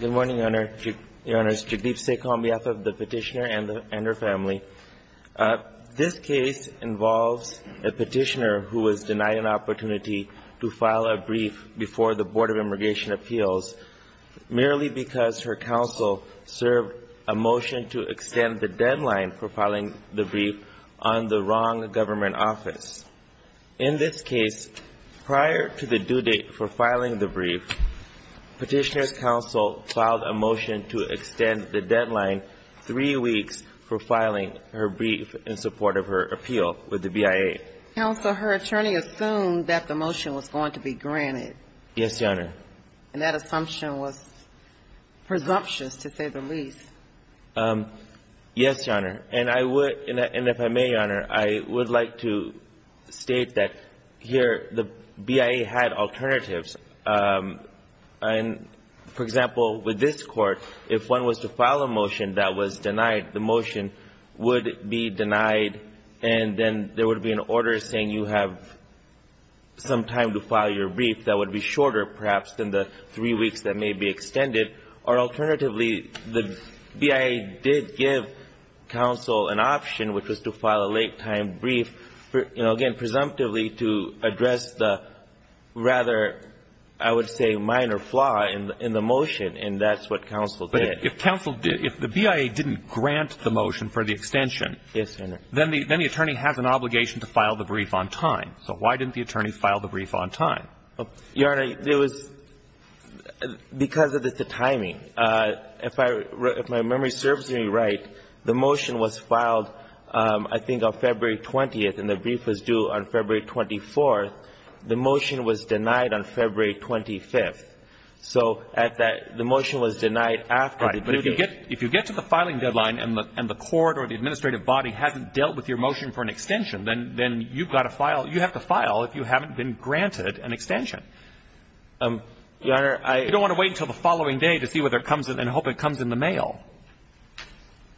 Good morning, Your Honors. Jagdeep Sekh on behalf of the petitioner and her family. This case involves a petitioner who was denied an opportunity to file a brief before the Board of Immigration Appeals merely because her counsel served a motion to extend the deadline for filing the brief on the wrong government office. In this case, prior to the due date for filing the brief, petitioner's counsel filed a motion to extend the deadline three weeks for filing her brief in support of her appeal with the BIA. Counsel, her attorney assumed that the motion was going to be granted. Yes, Your Honor. And that assumption was presumptuous, to say the least. Yes, Your Honor. And I would — and if I may, Your Honor, I would like to state that here the BIA had alternatives. And, for example, with this Court, if one was to file a motion that was denied, the motion would be denied and then there would be an order saying you have some time to file your brief that would be shorter, perhaps, than the three weeks that may be extended. Or, alternatively, the BIA did give counsel an option, which was to file a late-time brief, you know, again, presumptively to address the rather, I would say, minor flaw in the motion, and that's what counsel did. But if counsel — if the BIA didn't grant the motion for the extension, then the attorney has an obligation to file the brief on time. So why didn't the attorney file the brief on time? Your Honor, there was — because of the timing. If I — if my memory serves me right, the motion was filed, I think, on February 20th, and the brief was due on February 24th. The motion was denied on February 25th. So at that — the motion was denied after the brief. Right. But if you get — if you get to the filing deadline and the Court or the administrative body hasn't dealt with your motion for an extension, then you've got to file — you have to file if you haven't been granted an extension. Your Honor, I — You don't want to wait until the following day to see whether it comes in and hope it comes in the mail.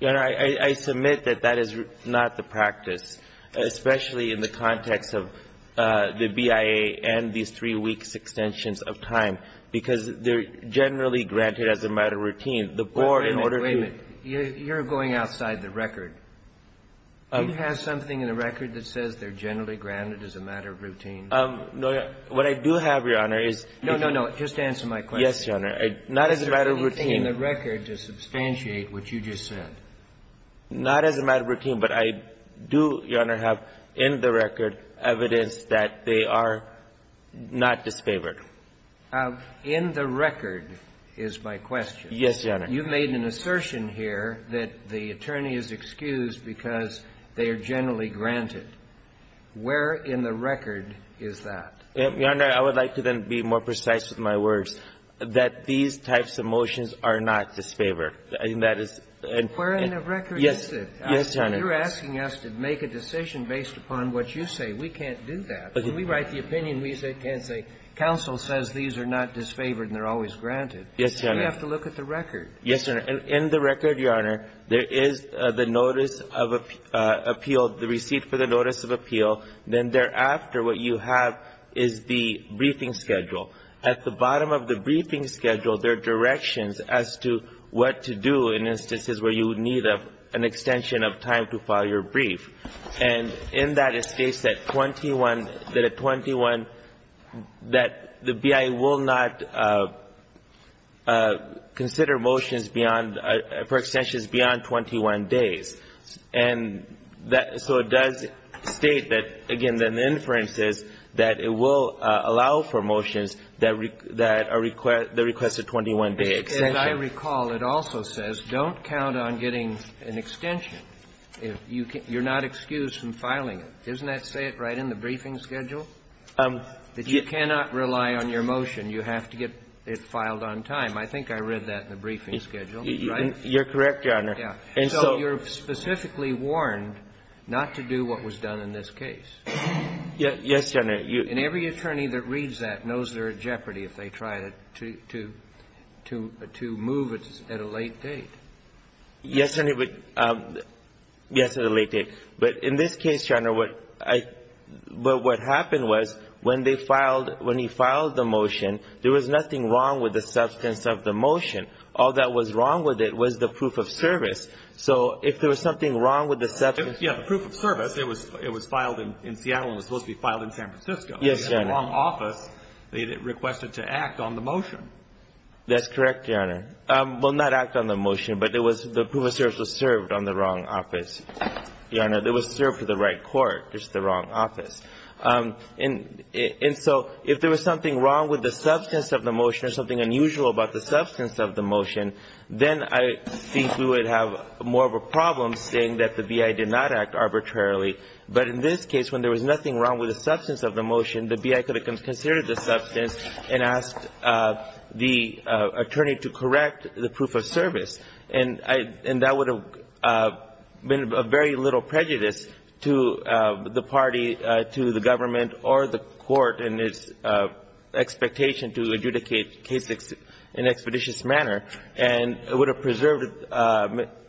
Your Honor, I — I submit that that is not the practice, especially in the context of the BIA and these three weeks' extensions of time, because they're generally granted as a matter of routine. The Board, in order to — Wait a minute. You're going outside the record. Do you have something in the record that says they're generally granted as a matter of routine? No, Your Honor. What I do have, Your Honor, is — No, no, no. Just answer my question. Yes, Your Honor. Not as a matter of routine. Is there anything in the record to substantiate what you just said? Not as a matter of routine, but I do, Your Honor, have in the record evidence that they are not disfavored. In the record is my question. Yes, Your Honor. You've made an assertion here that the attorney is excused because they are generally granted. Where in the record is that? Your Honor, I would like to then be more precise with my words, that these types of motions are not disfavored. I mean, that is — Where in the record is it? Yes, Your Honor. You're asking us to make a decision based upon what you say. We can't do that. When we write the opinion, we can't say counsel says these are not disfavored and they're always granted. Yes, Your Honor. We have to look at the record. Yes, Your Honor. In the record, Your Honor, there is the notice of appeal, the receipt for the notice of appeal. Then thereafter, what you have is the briefing schedule. At the bottom of the briefing schedule, there are directions as to what to do in instances where you would need an extension of time to file your brief. And in that, it states that 21 — that a 21 — that the BIA will not consider motions beyond — for extensions beyond 21 days. And that — so it does state that, again, then the inference is that it will allow for motions that are — that request a 21-day extension. As I recall, it also says don't count on getting an extension. You're not excused from filing it. Doesn't that say it right in the briefing schedule? That you cannot rely on your motion. You have to get it filed on time. I think I read that in the briefing schedule, right? You're correct, Your Honor. Yeah. And so you're specifically warned not to do what was done in this case. Yes, Your Honor. And every attorney that reads that knows they're in jeopardy if they try to — to move at a late date. Yes, and it would — yes, at a late date. But in this case, Your Honor, what I — what happened was when they filed — when he filed the motion, there was nothing wrong with the substance of the motion. All that was wrong with it was the proof of service. So if there was something wrong with the substance — Yeah, the proof of service, it was — it was filed in Seattle and was supposed to be filed in San Francisco. Yes, Your Honor. In the wrong office, they requested to act on the motion. That's correct, Your Honor. Well, not act on the motion, but it was — the proof of service was served on the wrong office, Your Honor. It was served for the right court, just the wrong office. And so if there was something wrong with the substance of the motion or something unusual about the substance of the motion, then I think we would have more of a problem saying that the B.I. did not act arbitrarily. But in this case, when there was nothing wrong with the substance of the motion, the B.I. could have considered the substance and asked the attorney to correct the proof of service. And that would have been of very little prejudice to the party, to the government or the court in its expectation to adjudicate the case in an expeditious manner and would have preserved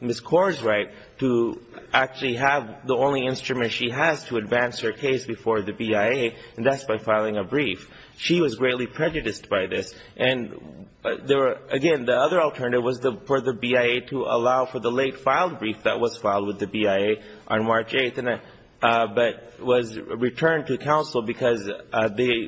Ms. Kor's right to actually have the only instrument she has to advance her case before the B.I.A., and that's by filing a brief. She was greatly prejudiced by this. And there were — again, the other alternative was for the B.I.A. to allow for the late-filed brief that was filed with the B.I.A. on March 8th, but was returned to counsel because they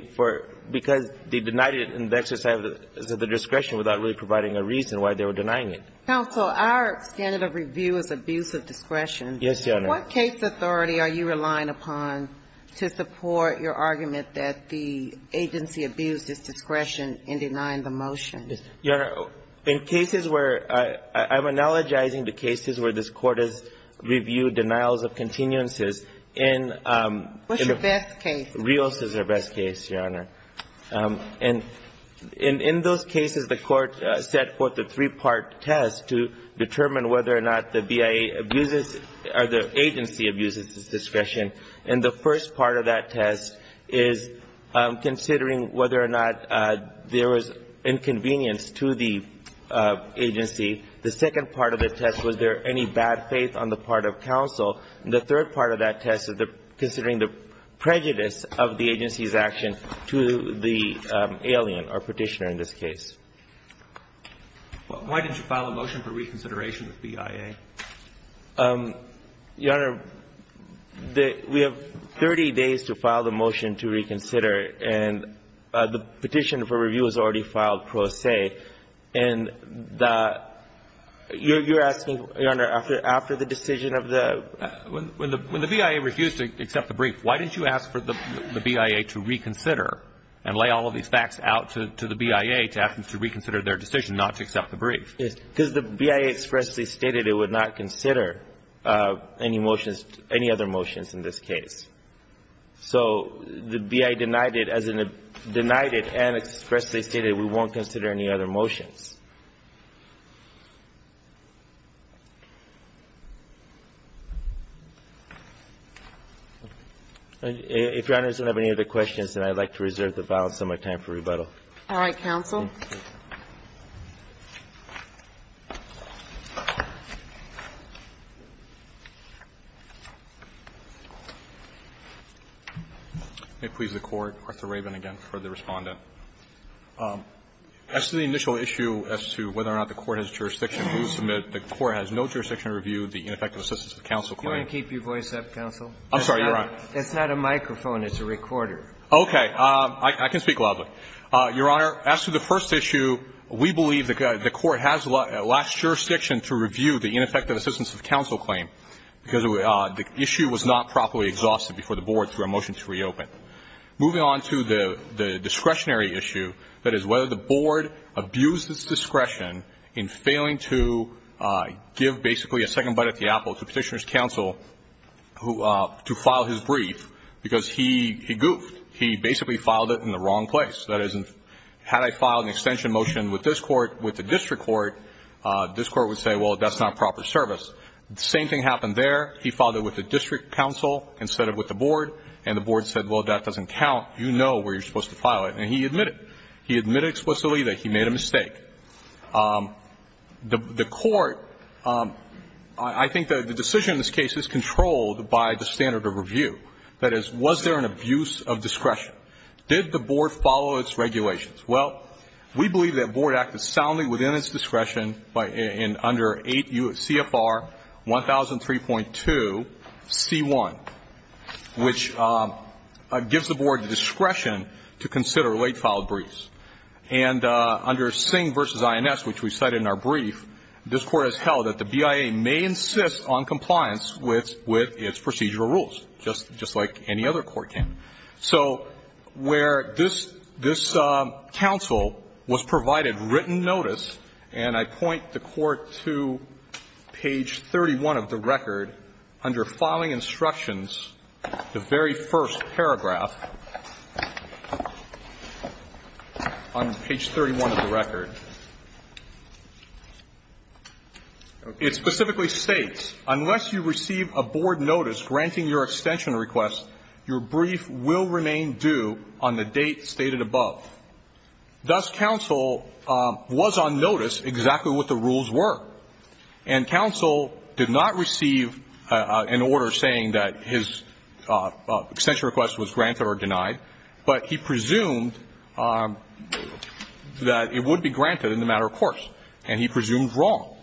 denied it in the exercise of the discretion without really providing a reason why they were denying it. Counsel, our standard of review is abuse of discretion. Yes, Your Honor. What case authority are you relying upon to support your argument that the agency abused its discretion in denying the motion? Your Honor, in cases where — I'm analogizing the cases where this Court has reviewed denials of continuances in — What's your best case? Rios is our best case, Your Honor. And in those cases, the Court set forth a three-part test to determine whether or not the B.I.A. abuses or the agency abuses its discretion. And the first part of that test is considering whether or not there was inconvenience to the agency. The second part of the test, was there any bad faith on the part of counsel? And the third part of that test is considering the prejudice of the agency's action to the alien or Petitioner in this case. Why did you file a motion for reconsideration with B.I.A.? Your Honor, the — we have 30 days to file the motion to reconsider, and the petition for review was already filed pro se. And the — you're asking, Your Honor, after the decision of the — When the B.I.A. refused to accept the brief, why didn't you ask for the B.I.A. to reconsider and lay all of these facts out to the B.I.A. to ask them to reconsider their decision not to accept the brief? Yes. Because the B.I.A. expressly stated it would not consider any motions — any other motions in this case. So the B.I.A. denied it as in — denied it and expressly stated we won't consider any other motions. If Your Honor doesn't have any other questions, then I'd like to reserve the balance of my time for rebuttal. All right, counsel. May it please the Court. Arthur Rabin again for the Respondent. As to the initial issue as to whether or not the Court has jurisdiction, we will submit the Court has no jurisdiction to review the ineffective assistance of counsel claim. Can you keep your voice up, counsel? I'm sorry, Your Honor. It's not a microphone. It's a recorder. Okay. I can speak loudly. Your Honor, as to the first issue, we believe the Court has last jurisdiction to review the ineffective assistance of counsel claim because the issue was not properly exhausted before the Board through a motion to reopen. Moving on to the discretionary issue, that is whether the Board abused its discretion in failing to give basically a second bite at the apple to Petitioner's counsel to file his brief because he goofed. He basically filed it in the wrong place. That is, had I filed an extension motion with this Court, with the District Court, this Court would say, well, that's not proper service. The same thing happened there. He filed it with the District Counsel instead of with the Board, and the Board said, well, that doesn't count. You know where you're supposed to file it, and he admitted. He admitted explicitly that he made a mistake. The Court – I think the decision in this case is controlled by the standard of review. That is, was there an abuse of discretion? Did the Board follow its regulations? Well, we believe that Board acted soundly within its discretion in under 8 CFR 1003.2 C.1, which gives the Board discretion to consider late-filed briefs. And under Singh v. INS, which we cited in our brief, this Court has held that the BIA may insist on compliance with its procedural rules, just like any other court can. So where this counsel was provided written notice, and I point the Court to page 31 of the record, under filing instructions, the very first paragraph on page 31 of the record. It specifically states, unless you receive a Board notice granting your extension request, your brief will remain due on the date stated above. Thus, counsel was on notice exactly what the rules were. And counsel did not receive an order saying that his extension request was granted or denied, but he presumed that it would be granted in the matter of course, and he presumed wrong.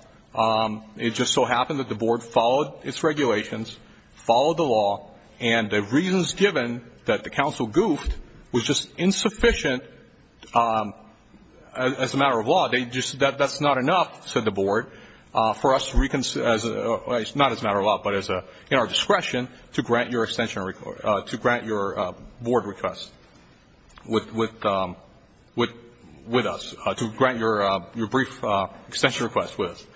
It just so happened that the Board followed its regulations, followed the law, and the reasons given that the counsel goofed was just insufficient as a matter of law. They just said that's not enough, said the Board, for us to reconcile, not as a matter of law, but in our discretion, to grant your extension request, to grant your Board request with us, to grant your brief extension request with us.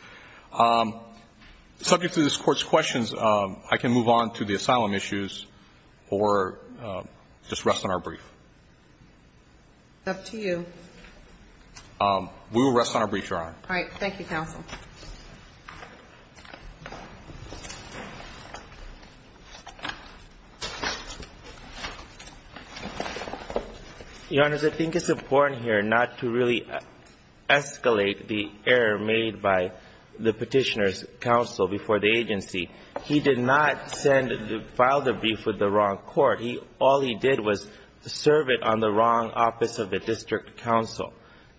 Subject to this Court's questions, I can move on to the asylum issues or just rest on our brief. It's up to you. We will rest on our brief, Your Honor. All right. Thank you, counsel. Your Honors, I think it's important here not to really escalate the error made by the Petitioner's counsel before the agency. He did not send the file of the brief with the wrong court. All he did was serve it on the wrong office of the district counsel.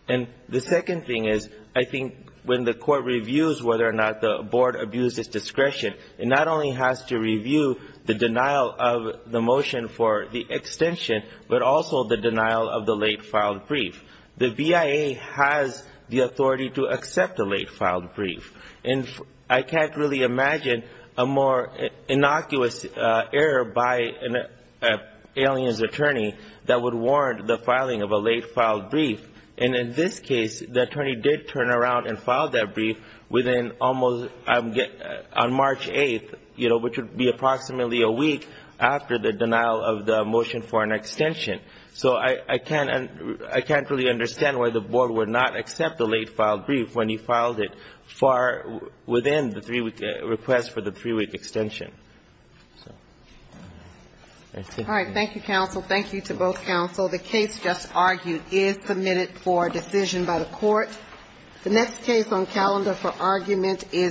And the second thing is, I think when the Court reviews whether or not the Board abused its discretion, it not only has to review the denial of the motion for the extension, but also the denial of the late-filed brief. The BIA has the authority to accept a late-filed brief. I can't really imagine a more innocuous error by an alien's attorney that would warrant the filing of a late-filed brief. And in this case, the attorney did turn around and file that brief on March 8th, which would be approximately a week after the denial of the motion for an extension. So I can't really understand why the Board would not accept the late-filed brief when he filed it far within the three-week request for the three-week extension. So, that's it. All right. Thank you, counsel. Thank you to both counsel. The case just argued is submitted for decision by the Court. The next case on calendar for argument is